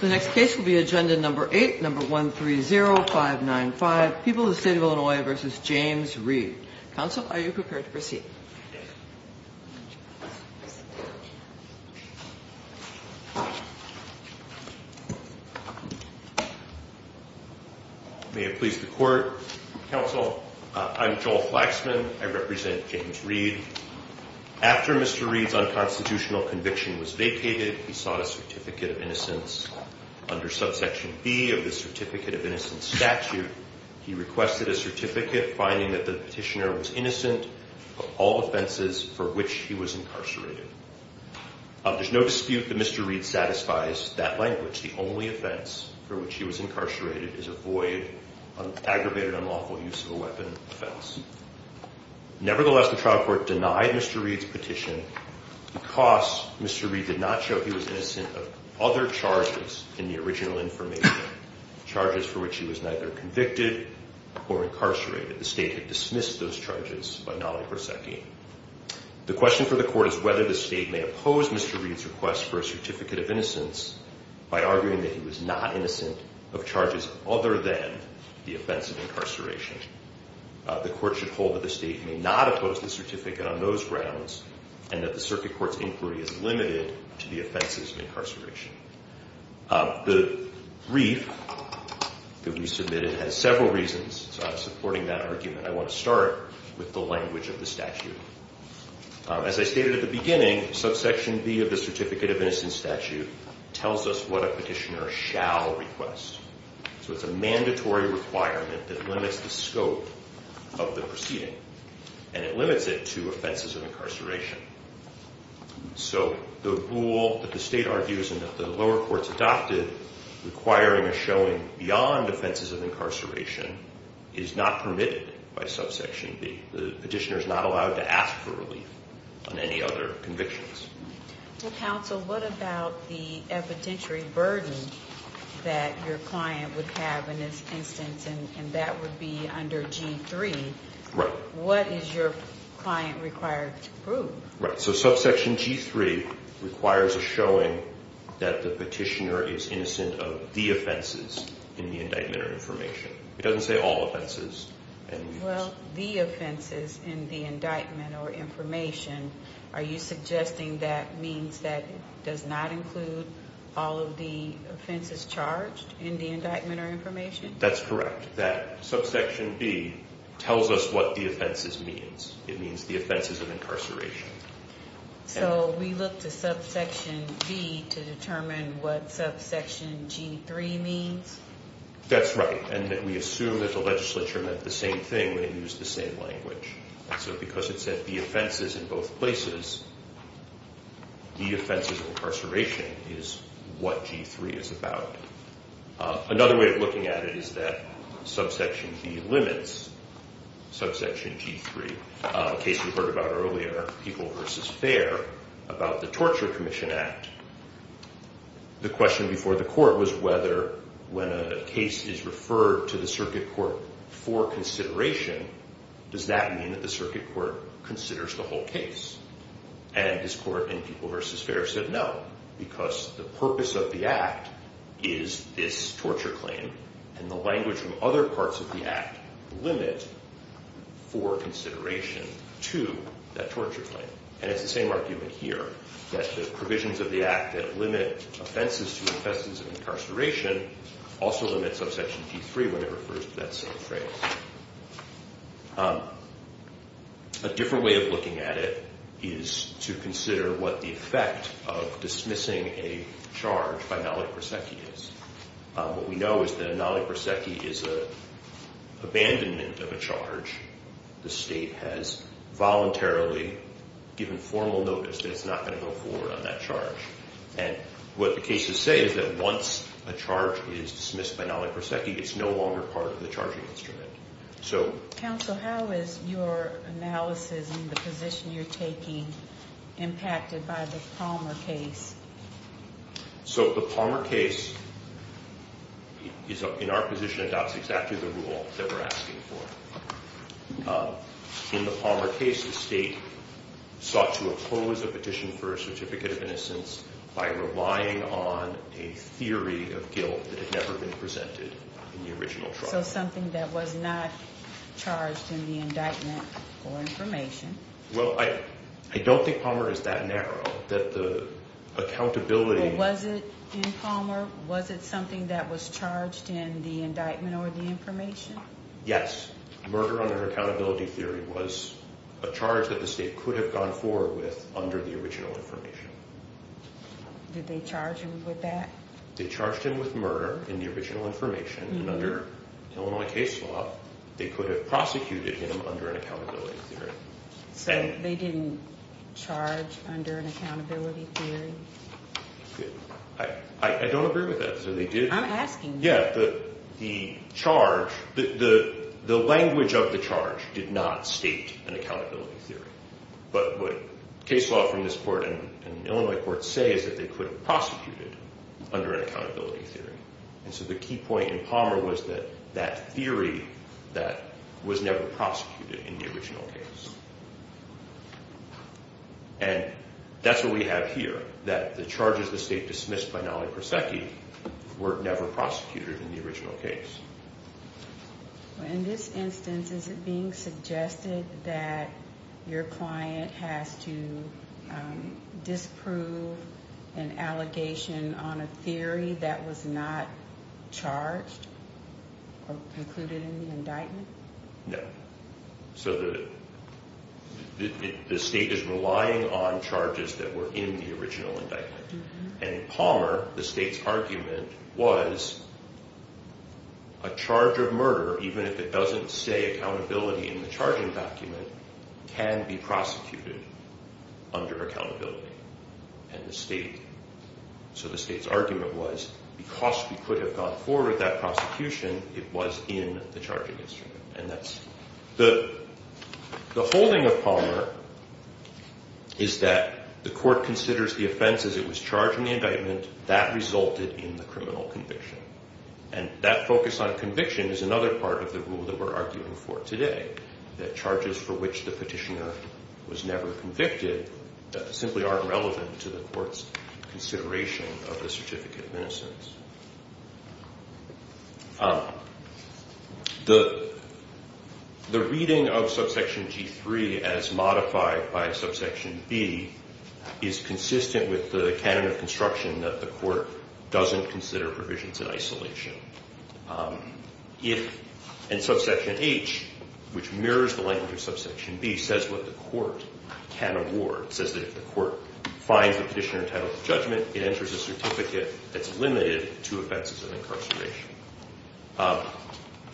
The next case will be agenda number 8, number 130595, People of the State of Illinois v. James Reed. Counsel, are you prepared to proceed? May it please the court. Counsel, I'm Joel Flaxman. I represent James Reed. After Mr. Reed's unconstitutional conviction was vacated, he sought a Certificate of Innocence. Under subsection B of the Certificate of Innocence statute, he requested a certificate finding that the petitioner was innocent of all offenses for which he was incarcerated. There's no dispute that Mr. Reed satisfies that language. The only offense for which he was incarcerated is a void, an aggravated unlawful use of a weapon offense. Nevertheless, the trial court denied Mr. Reed's petition because Mr. Reed did not show he was innocent of other charges in the original information, charges for which he was neither convicted or incarcerated. The state had dismissed those charges by Nali Perseki. The question for the court is whether the state may oppose Mr. Reed's request for a Certificate of Innocence by arguing that he was not innocent of charges other than the offense of incarceration. The court should hold that the state may not oppose the certificate on those grounds and that the circuit court's inquiry is limited to the offenses of incarceration. The brief that we submitted has several reasons, so I'm supporting that argument. I want to start with the language of the statute. As I stated at the beginning, subsection B of the Certificate of Innocence statute tells us what a petitioner shall request. So it's a mandatory requirement that limits the scope of the proceeding and it limits it to offenses of incarceration. So the rule that the state argues and that the lower courts adopted requiring a showing beyond offenses of incarceration is not permitted by subsection B. The petitioner is not allowed to ask for relief on any other convictions. Counsel, what about the evidentiary burden that your client would have in this instance and that would be under G3? Right. What is your client required to prove? Right, so subsection G3 requires a showing that the petitioner is innocent of the offenses in the indictment or information. It doesn't say all offenses. Well, the offenses in the indictment or information, are you suggesting that means that does not include all of the offenses charged in the indictment or information? That's correct. That subsection B tells us what the offenses means. It means the offenses of incarceration. So we look to subsection B to determine what subsection G3 means? That's right, and that we assume that the legislature meant the same thing when it used the same language. So because it said the offenses in both places, the offenses of incarceration is what G3 is about. Another way of looking at it is that subsection B limits subsection G3. A case we heard about earlier, People v. Fair, about the Torture Commission Act. The question before the court was whether when a case is referred to the circuit court for consideration, does that mean that the circuit court considers the whole case? And this court in People v. Fair said no, because the purpose of the act is this torture claim and the language from other parts of the act limit for consideration to that torture claim. And it's the same argument here, that the provisions of the act that limit offenses to offenses of incarceration also limits subsection G3 when it refers to that same frame. A different way of looking at it is to consider what the effect of dismissing a charge by Nali Perseki is. What we know is that Nali Perseki is an abandonment of a charge. The state has voluntarily given formal notice that it's not going to go forward on that charge. And what the cases say is that once a charge is dismissed by Nali Perseki, it's no longer part of the charging instrument. So... Counsel, how is your analysis in the position you're taking impacted by the Palmer case? So the Palmer case is, in our position, adopts exactly the rule that we're asking for. In the Palmer case, the state sought to oppose a petition for a certificate of innocence by relying on a theory of guilt that had never been presented in the original trial. So something that was not charged in the indictment or information. Well, I don't think Palmer is that narrow. That the accountability... Well, was it in Palmer? Was it something that was charged in the indictment or the information? Yes. Murder under accountability theory was a charge that the state could have gone forward with under the original information. Did they charge him with that? They charged him with murder in the original information, and under Illinois case law, they could have prosecuted him under an accountability theory. So they didn't charge under an accountability theory? I don't agree with that. I'm asking. Yeah, the charge, the language of the charge did not state an accountability theory. But what case law from this court and Illinois courts say is that they could have prosecuted under an accountability theory. And so the key point in Palmer was that that theory that was never prosecuted in the original case. And that's what we have here, that the charges the state dismissed by Nollie Persecchi were never prosecuted in the original case. In this instance, is it being suggested that your client has to disprove an allegation on a theory that was not charged or concluded in the indictment? No. So the state is relying on charges that were in the original indictment. And in Palmer, the state's argument was a charge of murder, even if it would say accountability in the charging document, can be prosecuted under accountability. And the state, so the state's argument was, because we could have gone forward with that prosecution, it was in the charging instrument. And that's the holding of Palmer is that the court considers the offense as it was charged in the indictment, that resulted in the criminal conviction. And that focus on conviction is another part of the rule that we're arguing for today, that charges for which the petitioner was never convicted simply aren't relevant to the court's consideration of the certificate of innocence. The reading of subsection G3 as modified by subsection B is consistent with the canon of construction that the court doesn't consider provisions in isolation. And subsection H, which mirrors the language of subsection B, says what the court can award. It says that if the court finds the petitioner entitled to judgment, it enters a certificate that's limited to offenses of incarceration.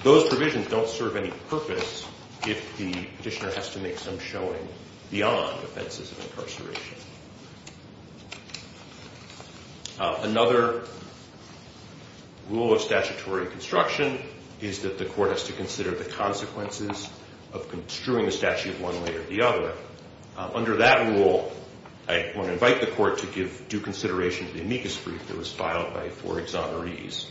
Those provisions don't serve any purpose if the petitioner has to make some showing beyond offenses of incarceration. Another rule of statutory construction is that the court has to consider the consequences of construing a statute one way or the other. Under that rule, I want to invite the court to give due consideration to the amicus brief that was filed by four exonerees,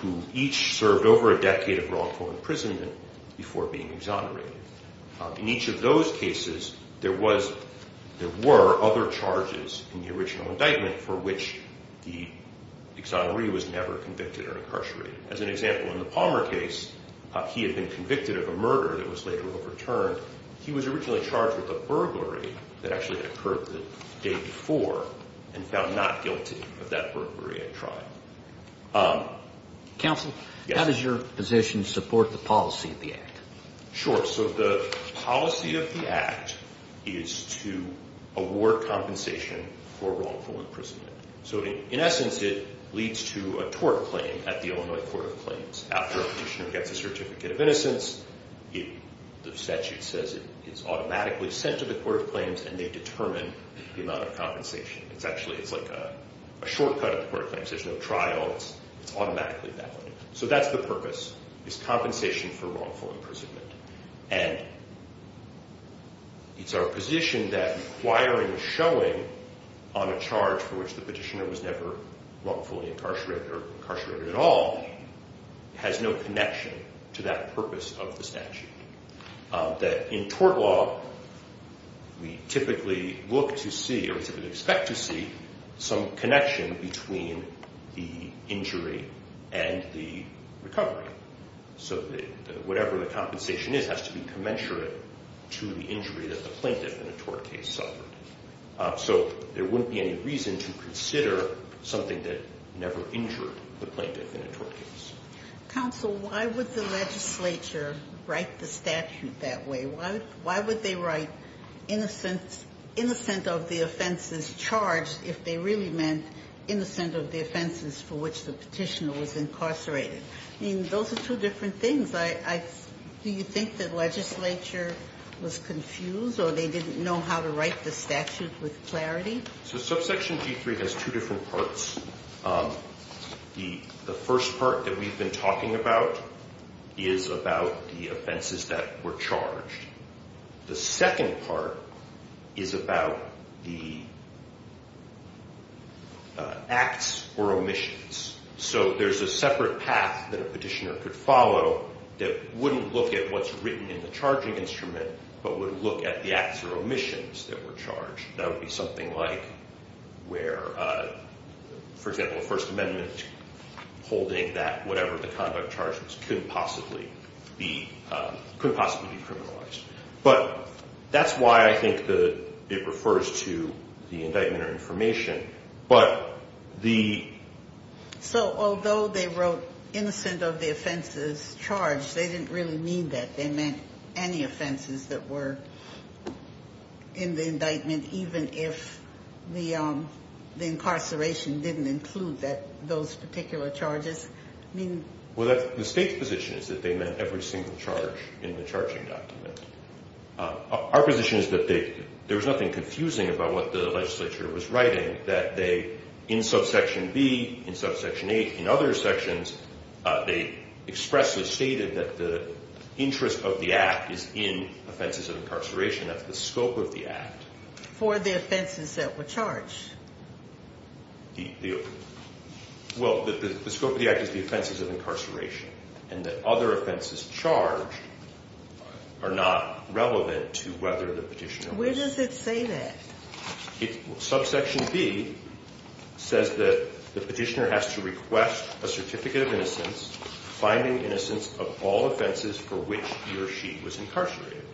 who each served over a decade of wrongful imprisonment before being exonerated. In each of those cases, there was, there were, there were other charges in the original indictment for which the exoneree was never convicted or incarcerated. As an example, in the Palmer case, he had been convicted of a murder that was later overturned. He was originally charged with a burglary that actually occurred the day before and found not guilty of that burglary at trial. Counsel? Yes. How does your position support the policy of the Act? So that's the purpose, is compensation for wrongful imprisonment. And it's our position that requiring a showing on a charge for which the petitioner was never wrongfully incarcerated or incarcerated at all has no connection to that purpose of the statute. That in tort law, we typically look to see or typically expect to see some connection between the injury and the recovery. So whatever the compensation is has to be commensurate to the injury that the plaintiff in a tort case suffered. So there wouldn't be any reason to consider something that never injured the plaintiff in a tort case. Counsel, why would the legislature write the statute that way? Why would they write innocent of the offenses charged if they really meant innocent of the offenses for which the petitioner was incarcerated? I mean, those are two different things. Do you think the legislature was confused or they didn't know how to write the statute with clarity? So subsection G3 has two different parts. The first part that we've been talking about is about the offenses that were charged. The second part is about the acts or omissions. So there's a separate path that a petitioner could follow that wouldn't look at what's written in the charging instrument, but would look at the acts or omissions that were charged. That would be something like where, for example, the First Amendment holding that whatever the conduct charge was couldn't possibly be criminalized. But that's why I think it refers to the indictment or information. So although they wrote innocent of the offenses charged, they didn't really mean that. They meant any offenses that were in the indictment, even if the incarceration didn't include those particular charges. Well, the state's position is that they meant every single charge in the charging document. Our position is that there was nothing confusing about what the legislature was writing, that they, in subsection B, in subsection A, in other sections, they expressly stated that the interest of the act is in offenses of incarceration. That's the scope of the act. For the offenses that were charged. Well, the scope of the act is the offenses of incarceration, and that other offenses charged are not relevant to whether the petitioner was. Where does it say that? Subsection B says that the petitioner has to request a certificate of innocence, finding innocence of all offenses for which he or she was incarcerated.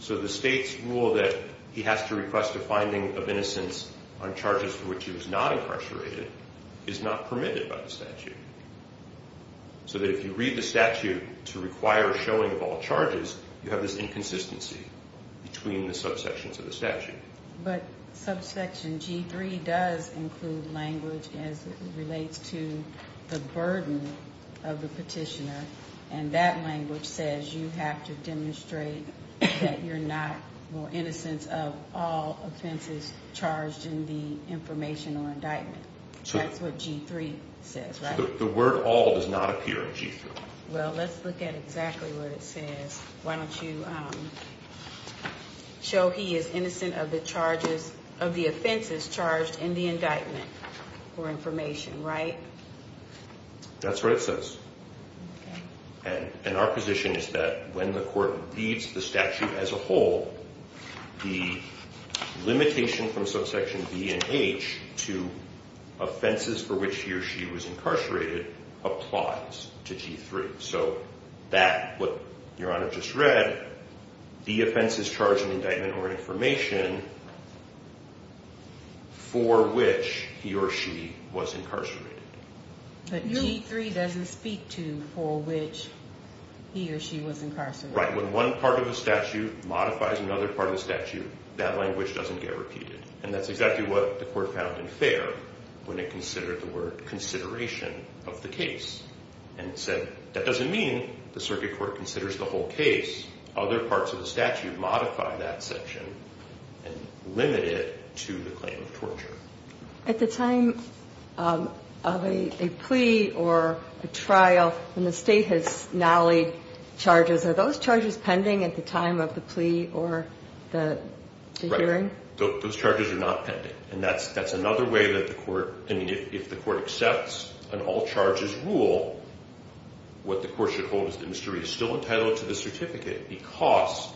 So the state's rule that he has to request a finding of innocence on charges for which he was not incarcerated is not permitted by the statute. So that if you read the statute to require showing of all charges, you have this inconsistency between the subsections of the statute. But subsection G3 does include language as it relates to the burden of the petitioner, and that language says you have to demonstrate that you're not more innocent of all offenses charged in the information or indictment. So that's what G3 says, right? The word all does not appear in G3. Well, let's look at exactly what it says. Why don't you show he is innocent of the offenses charged in the indictment for information, right? That's what it says. And our position is that when the court reads the statute as a whole, the limitation from subsection B and H to offenses for which he or she was incarcerated applies to G3. So that, what Your Honor just read, the offenses charged in indictment or information for which he or she was incarcerated. But G3 doesn't speak to for which he or she was incarcerated. Right. When one part of the statute modifies another part of the statute, that language doesn't get repeated. And that's exactly what the court found unfair when it considered the word consideration of the case and said, that doesn't mean the circuit court considers the whole case. Other parts of the statute modify that section and limit it to the claim of torture. At the time of a plea or a trial when the state has nallied charges, are those charges pending at the time of the plea or the hearing? Those charges are not pending. And that's another way that the court, I mean, if the court accepts an all-charges rule, what the court should hold is that Mr. Reed is still entitled to the certificate. Because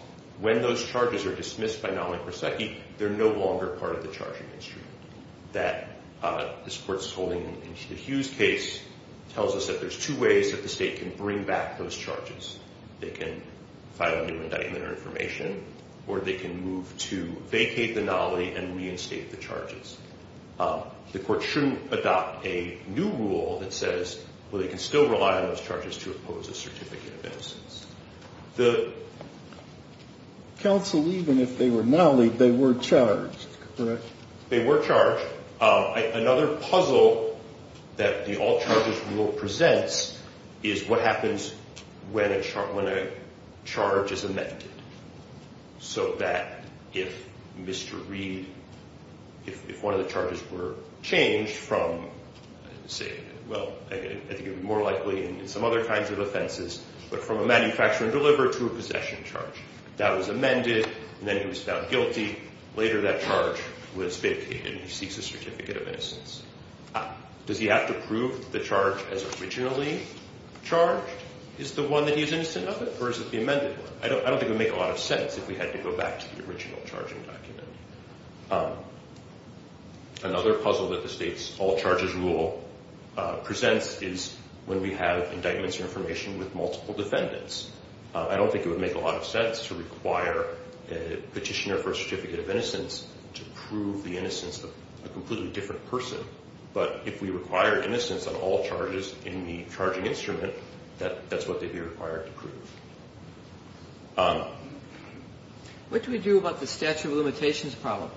when those charges are dismissed by nalling prosecute, they're no longer part of the charging history. That this court's holding in the Hughes case tells us that there's two ways that the state can bring back those charges. They can file a new indictment or information, or they can move to vacate the nally and reinstate the charges. The court shouldn't adopt a new rule that says, well, they can still rely on those charges to oppose a certificate of innocence. The counsel, even if they were nallied, they were charged, correct? They were charged. Another puzzle that the all-charges rule presents is what happens when a charge is amended. So that if Mr. Reed, if one of the charges were changed from, say, well, I think it would be more likely in some other kinds of offenses, but from a manufacturer delivered to a possession charge. That was amended, and then he was found guilty. Later, that charge was vacated, and he seeks a certificate of innocence. Does he have to prove the charge as originally charged? Is the one that he's innocent of it, or is it the amended one? I don't think it would make a lot of sense if we had to go back to the original charging document. Another puzzle that the state's all-charges rule presents is when we have indictments or information with multiple defendants. I don't think it would make a lot of sense to require a petitioner for a certificate of innocence to prove the innocence of a completely different person. But if we require innocence on all charges in the charging instrument, that's what they'd be required to prove. What do we do about the statute of limitations problem?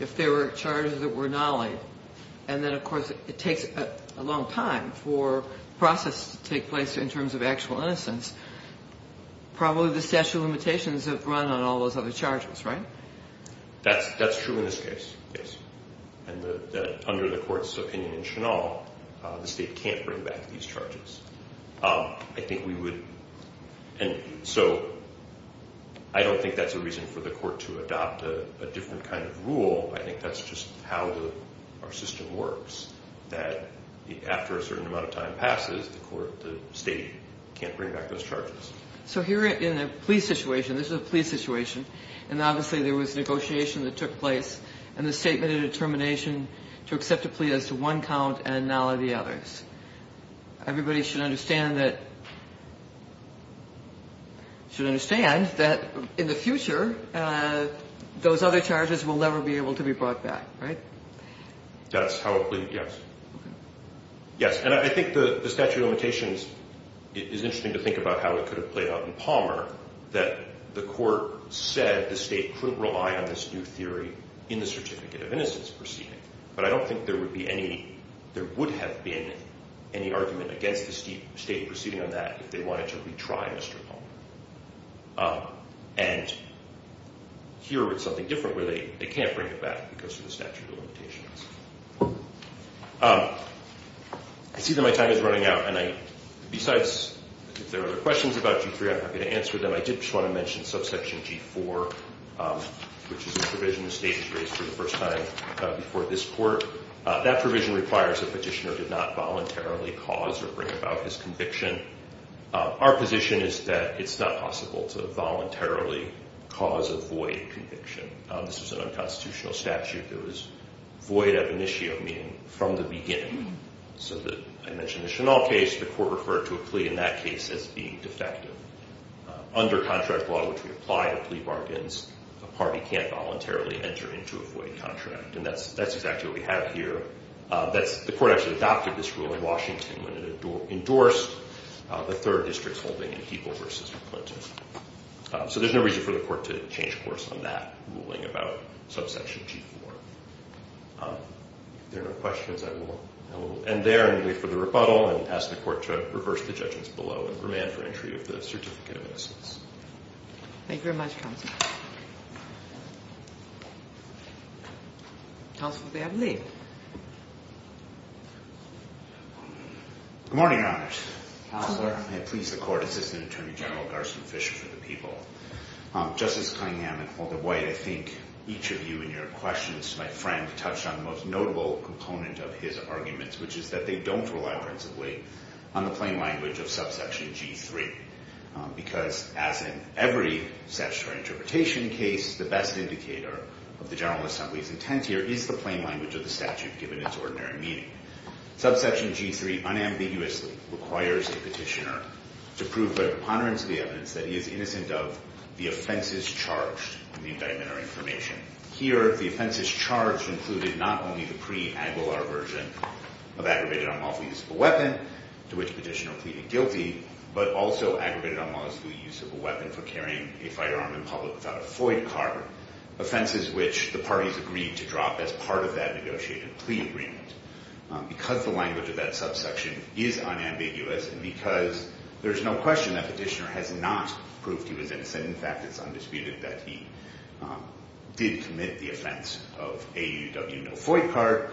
If there were charges that were nallied, and then, of course, it takes a long time for process to take place in terms of actual innocence. Probably the statute of limitations have run on all those other charges, right? That's true in this case, yes. And under the court's opinion in Chennault, the state can't bring back these charges. I think we would. And so I don't think that's a reason for the court to adopt a different kind of rule. I think that's just how our system works, that after a certain amount of time passes, the state can't bring back those charges. So here in a plea situation, this is a plea situation, and obviously there was negotiation that took place, and the statement of determination to accept a plea as to one count and nally the others. Everybody should understand that in the future, those other charges will never be able to be brought back, right? That's how a plea, yes. Yes, and I think the statute of limitations is interesting to think about how it could have played out in Palmer, that the court said the state couldn't rely on this new theory in the certificate of innocence proceeding. But I don't think there would have been any argument against the state proceeding on that if they wanted to retry Mr. Palmer. And here it's something different where they can't bring it back because of the statute of limitations. I see that my time is running out, and besides if there are other questions about G3, I'm happy to answer them. I did just want to mention subsection G4, which is a provision the state has raised for the first time before this court. That provision requires the petitioner did not voluntarily cause or bring about his conviction. Our position is that it's not possible to voluntarily cause a void conviction. This was an unconstitutional statute that was void ad initio, meaning from the beginning. So I mentioned the Chennault case, the court referred to a plea in that case as being defective. Under contract law, which we apply to plea bargains, a party can't voluntarily enter into a void contract. And that's exactly what we have here. The court actually adopted this rule in Washington when it endorsed the third district's holding in People v. McClinton. So there's no reason for the court to change course on that ruling about subsection G4. If there are no questions, I will end there and wait for the rebuttal and ask the court to reverse the judgments below and remand for entry of the certificate of innocence. Thank you very much, counsel. Counsel, if they have leave. Good morning, Your Honors. Counselor. Please, the court assistant attorney general, Garson Fisher for the people. Justice Cunningham and Calder White, I think each of you in your questions, my friend touched on the most notable component of his arguments, which is that they don't rely principally on the plain language of subsection G3. Because as in every statutory interpretation case, the best indicator of the General Assembly's intent here is the plain language of the statute given its ordinary meaning. Subsection G3 unambiguously requires the petitioner to prove by preponderance of the evidence that he is innocent of the offenses charged in the indictment or information. Here, the offenses charged included not only the pre-Aguilar version of aggravated unlawful use of a weapon to which the petitioner pleaded guilty, but also aggravated unlawful use of a weapon for carrying a firearm in public without a FOIA card, offenses which the parties agreed to drop as part of that negotiated plea agreement. Because the language of that subsection is unambiguous and because there's no question that petitioner has not proved he was innocent, in fact, it's undisputed that he did commit the offense of AUW no FOIA card,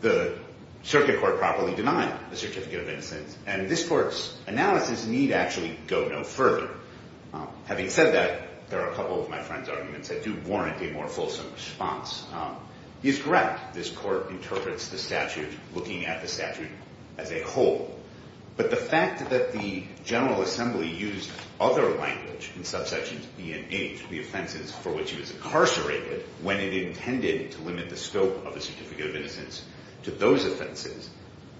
the circuit court properly denied the certificate of innocence and this court's analysis need actually go no further. Having said that, there are a couple of my friend's arguments that do warrant a more fulsome response. He is correct, this court interprets the statute looking at the statute as a whole. But the fact that the General Assembly used other language in subsections B and H, the offenses for which he was incarcerated when it intended to limit the scope of the certificate of innocence to those offenses,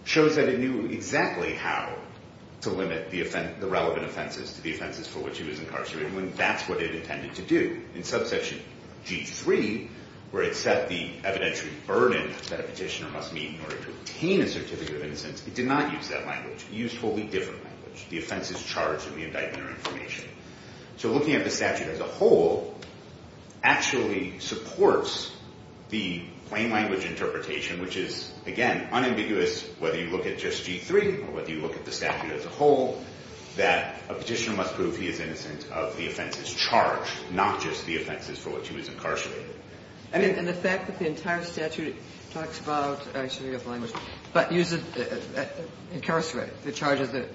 shows that it knew exactly how to limit the relevant offenses to the offenses for which he was incarcerated when that's what it intended to do. In subsection G3, where it set the evidentiary burden that a petitioner must meet in order to obtain a certificate of innocence, it did not use that language. It used a totally different language. The offense is charged in the indictment or information. So looking at the statute as a whole actually supports the plain language interpretation, which is, again, unambiguous whether you look at just G3 or whether you look at the statute as a whole, that a petitioner must prove he is innocent of the offenses charged, not just the offenses for which he was incarcerated. And the fact that the entire statute talks about actually a language, but uses incarcerated, the charges that,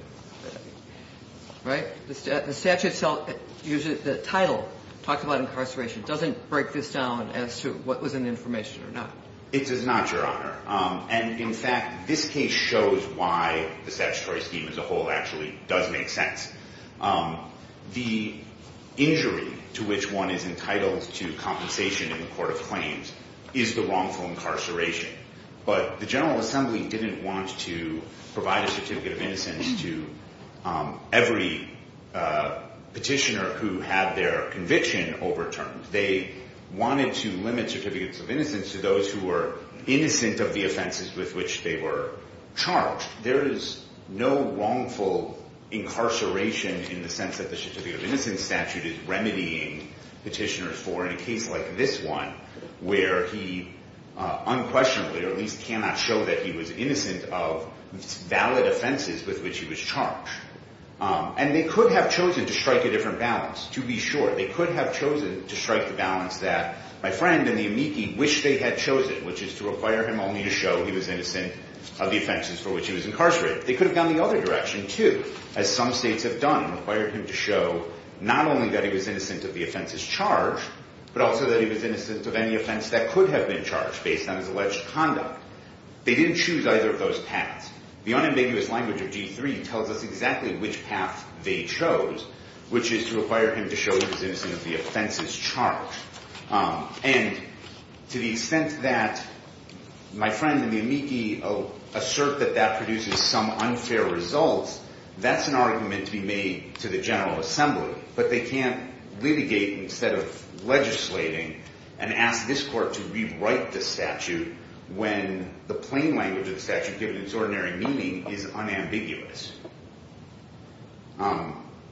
right? The statute itself uses the title, talks about incarceration, doesn't break this down as to what was in the information or not. It does not, Your Honor. And in fact, this case shows why the statutory scheme as a whole actually does make sense. The injury to which one is entitled to compensation in the court of claims is the wrongful incarceration. But the General Assembly didn't want to provide a certificate of innocence to every petitioner who had their conviction overturned. They wanted to limit certificates of innocence to those who were innocent of the offenses with which they were charged. There is no wrongful incarceration in the sense that the certificate of innocence statute is remedying petitioners for in a case like this one, where he unquestionably or at least cannot show that he was innocent of valid offenses with which he was charged. And they could have chosen to strike a different balance, to be sure. They could have chosen to strike the balance that my friend and the amici wish they had chosen, which is to require him only to show he was innocent of the offenses for which he was incarcerated. They could have gone the other direction, too, as some states have done, and required him to show not only that he was innocent of the offenses charged, but also that he was innocent of any offense that could have been charged based on his alleged conduct. They didn't choose either of those paths. The unambiguous language of G3 tells us exactly which path they chose, which is to require him to show he was innocent of the offenses charged. And to the extent that my friend and the amici assert that that produces some unfair results, that's an argument to be made to the General Assembly. But they can't litigate instead of legislating and ask this court to rewrite the statute when the plain language of the statute, given its ordinary meaning, is unambiguous.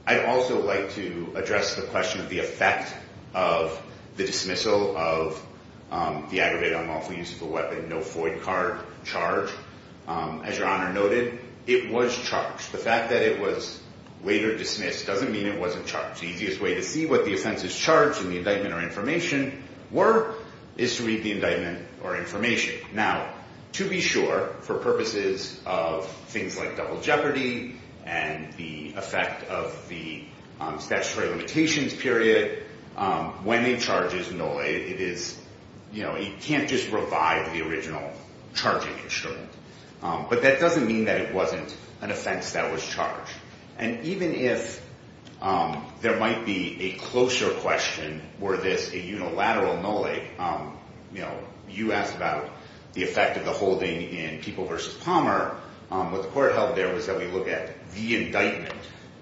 I'd also like to address the question of the effect of the dismissal of the aggravated unlawful use of a weapon, no FOID card charge. As Your Honor noted, it was charged. The fact that it was later dismissed doesn't mean it wasn't charged. The easiest way to see what the offenses charged in the indictment or information were is to read the indictment or information. Now, to be sure, for purposes of things like double jeopardy and the effect of the statutory limitations period, when a charge is null, it can't just revive the original charging instrument. But that doesn't mean that it wasn't an offense that was charged. And even if there might be a closer question, were this a unilateral no-lay, you know, you asked about the effect of the holding in People v. Palmer. What the court held there was that we look at the indictment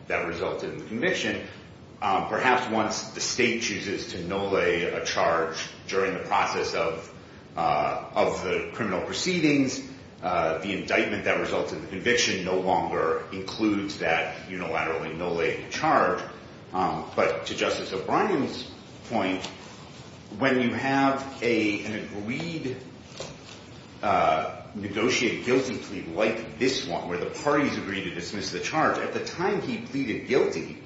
that resulted in the conviction. Perhaps once the state chooses to no-lay a charge during the process of the criminal proceedings, the indictment that resulted in the conviction no longer includes that unilaterally no-laying charge. But to Justice O'Brien's point, when you have an agreed negotiated guilty plea like this one, where the parties agree to dismiss the charge, at the time he pleaded guilty,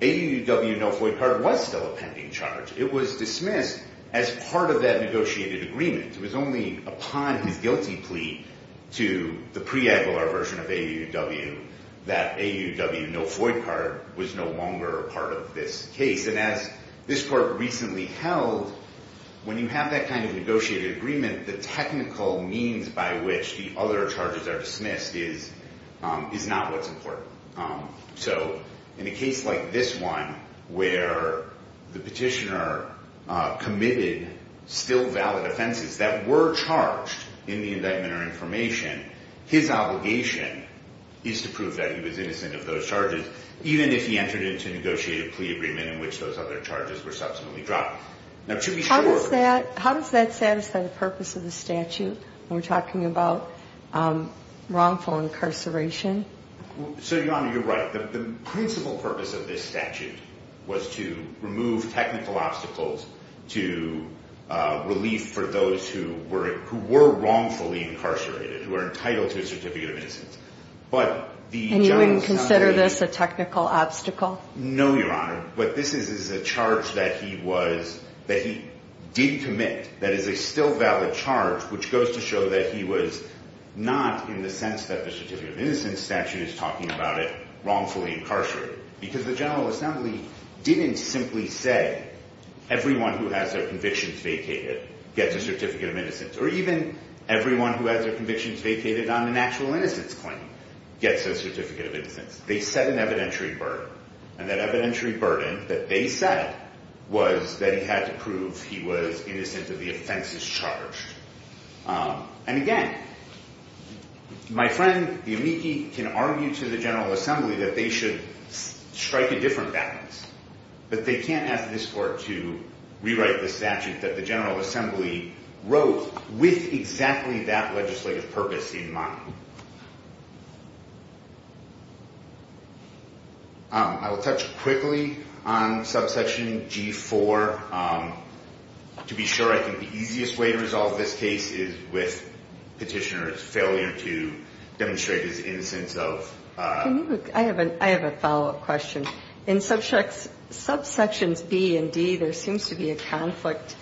AUUW no FOID card was still a pending charge. It was dismissed as part of that negotiated agreement. It was only upon his guilty plea to the pre-agilar version of AUUW that AUUW no FOID card was no longer a part of this case. And as this court recently held, when you have that kind of negotiated agreement, the technical means by which the other charges are dismissed is not what's important. So in a case like this one, where the petitioner committed still valid offenses that were charged in the indictment or information, his obligation is to prove that he was innocent of those charges, even if he entered into a negotiated plea agreement in which those other charges were subsequently dropped. How does that satisfy the purpose of the statute when we're talking about wrongful incarceration? So, Your Honor, you're right. The principal purpose of this statute was to remove technical obstacles to relief for those who were wrongfully incarcerated, who are entitled to a certificate of innocence. And you wouldn't consider this a technical obstacle? No, Your Honor. What this is is a charge that he did commit that is a still valid charge, which goes to show that he was not in the sense that the certificate of innocence in the statute is talking about it wrongfully incarcerated. Because the General Assembly didn't simply say everyone who has their convictions vacated gets a certificate of innocence. Or even everyone who has their convictions vacated on an actual innocence claim gets a certificate of innocence. They set an evidentiary burden. And that evidentiary burden that they set was that he had to prove he was innocent of the offenses charged. And again, my friend the amici can argue to the General Assembly that they should strike a different balance. But they can't ask this Court to rewrite the statute that the General Assembly wrote with exactly that legislative purpose in mind. I will touch quickly on subsection G4 to be sure I think the easiest way to resolve this case is with Petitioner's failure to demonstrate his innocence of I have a follow-up question. In subsections B and D there seems to be a conflict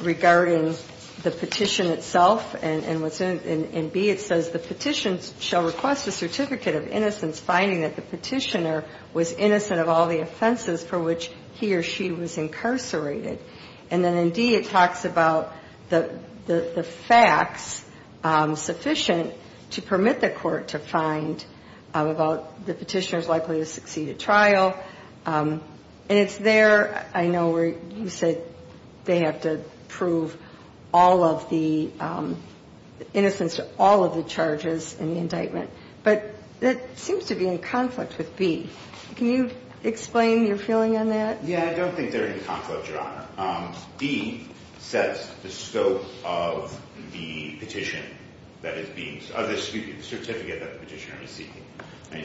regarding the petition itself. And in B it says the petition shall request a certificate of innocence finding that the Petitioner was innocent of all the offenses for which he or she was incarcerated. And then in D it talks about the facts sufficient to permit the Court to find about the Petitioner's likely to succeed at trial. And it's there I know where you said they have to prove all of the innocence of all of the charges in the indictment. But that seems to be in conflict with B. Can you explain your feeling on that? Yeah, I don't think they're in conflict, Your Honor. D says the scope of the petition that is being the certificate that the Petitioner is seeking.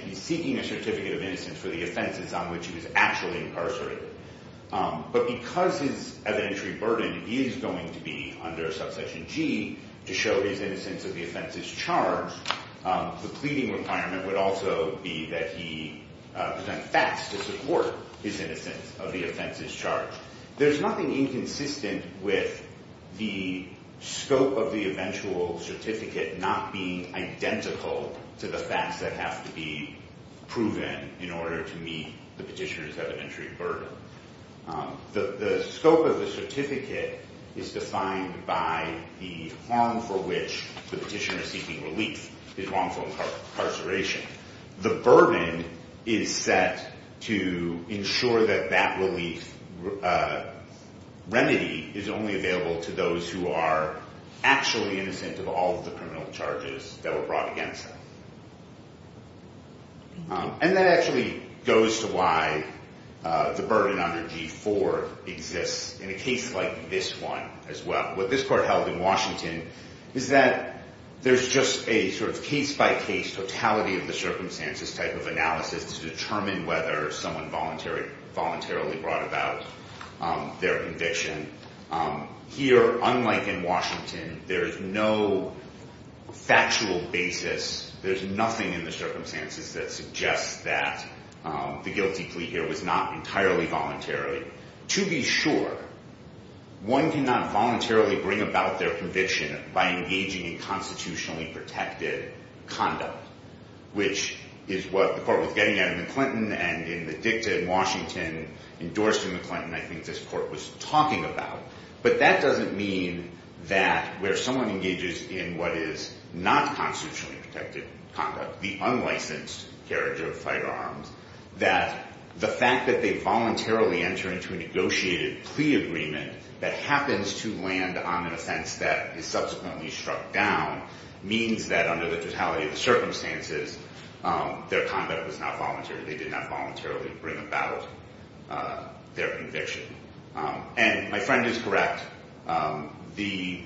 He's seeking a certificate of innocence for the offenses on which he was actually incarcerated. But because his evidentiary burden is going to be under subsection G to show his innocence of the offenses charged the pleading requirement would also be that he present facts to support his innocence of the offenses charged. There's nothing inconsistent with the scope of the eventual certificate not being identical to the facts that have to be proven in order to meet the Petitioner's evidentiary burden. The scope of the certificate is defined by the harm for which the Petitioner seeking relief is wrongful incarceration. The burden is set to ensure that that relief remedy is only available to those who are actually innocent of all of the criminal charges that were brought against them. And that actually goes to why the burden under G4 exists in a case like this one as well. What this court held in Washington is that there's just a sort of case-by-case totality of the circumstances type of analysis to determine whether someone voluntarily brought about their conviction. Here, unlike in Washington, there's no factual basis. There's nothing in the circumstances that suggests that the guilty plea here was not entirely voluntarily. To be sure, one cannot voluntarily bring about their conviction by engaging in constitutionally protected conduct, which is what the court was getting at in McClinton and in the dicta in Washington, endorsed in McClinton, I think this court was talking about. But that doesn't mean that where someone engages in what is not constitutionally protected conduct, the unlicensed carriage of firearms, that the fact that they voluntarily enter into a negotiated plea agreement that happens to land on an offense that is subsequently struck down means that under the totality of the circumstances, their conduct was not voluntary. They did not voluntarily bring about their conviction. And my friend is correct. The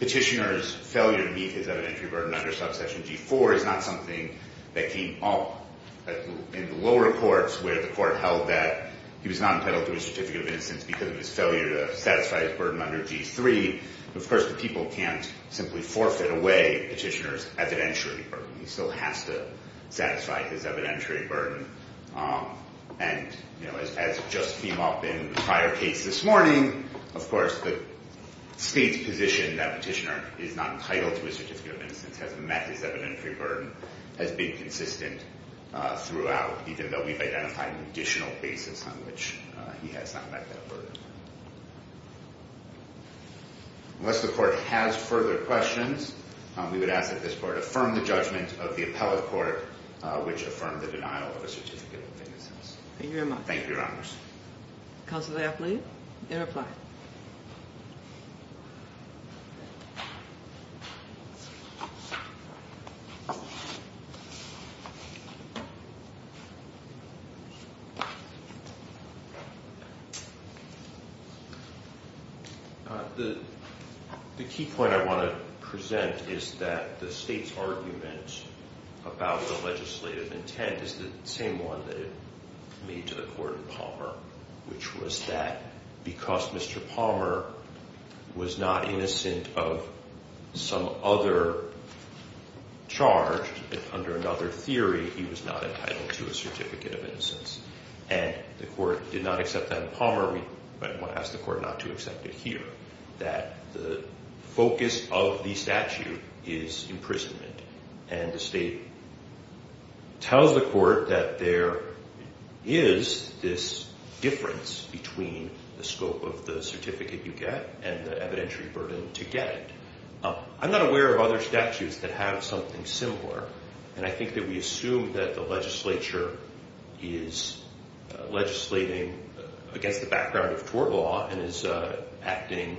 petitioner's failure to meet his evidentiary burden under subsection G4 is not something that came up in the lower courts where the court held that he was not entitled to a certificate of innocence because of his failure to satisfy his burden under G3. Of course, the people can't simply forfeit away a petitioner's evidentiary burden. He still has to satisfy his evidentiary burden. And as just came up in the prior case this morning, of course, the state's position that a petitioner is not entitled to a certificate of innocence has met his evidentiary burden, has been consistent throughout, even though we've identified an additional basis on which he has not met that burden. Unless the court has further questions, we would ask that this court affirm the judgment of the appellate court, which affirmed the denial of a certificate of innocence. Thank you very much. Thank you, Your Honors. Counselor Lafley, interply. The key point I want to present is that the state's argument about the legislative intent is the same one that it made to the court in Palmer, which was that because Mr. Palmer was not innocent of some other charge, under another theory, he was not entitled to a certificate of innocence. And the court did not accept that in Palmer. We might want to ask the court not to accept it here, that the focus of the statute is imprisonment. And the state tells the court that there is this difference between the scope of the certificate you get and the evidentiary burden to get it. I'm not aware of other statutes that have something similar. And I think that we assume that the legislature is legislating against the background of tort law and is acting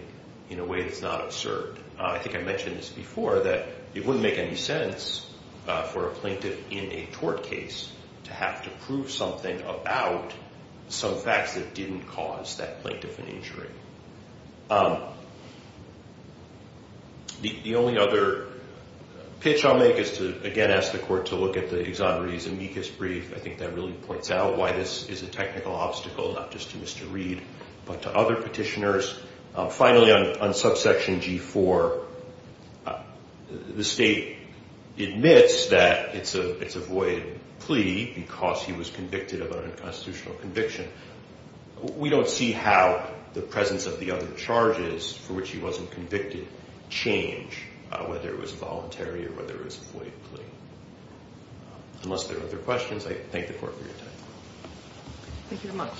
in a way that's not absurd. I think I mentioned this before, that it wouldn't make any sense for a plaintiff in a tort case to have to prove something about some facts that didn't cause that plaintiff an injury. The only other pitch I'll make is to, again, ask the court to look at the exonerees amicus brief. I think that really points out why this is a technical obstacle, not just to Mr. Reed, but to other petitioners. Finally, on subsection G4, the state admits that it's a void plea because he was convicted of an unconstitutional conviction. We don't see how the presence of the other charges for which he wasn't convicted change, whether it was voluntary or whether it was a void plea. Unless there are other questions, I thank the court for your time. Thank you very much.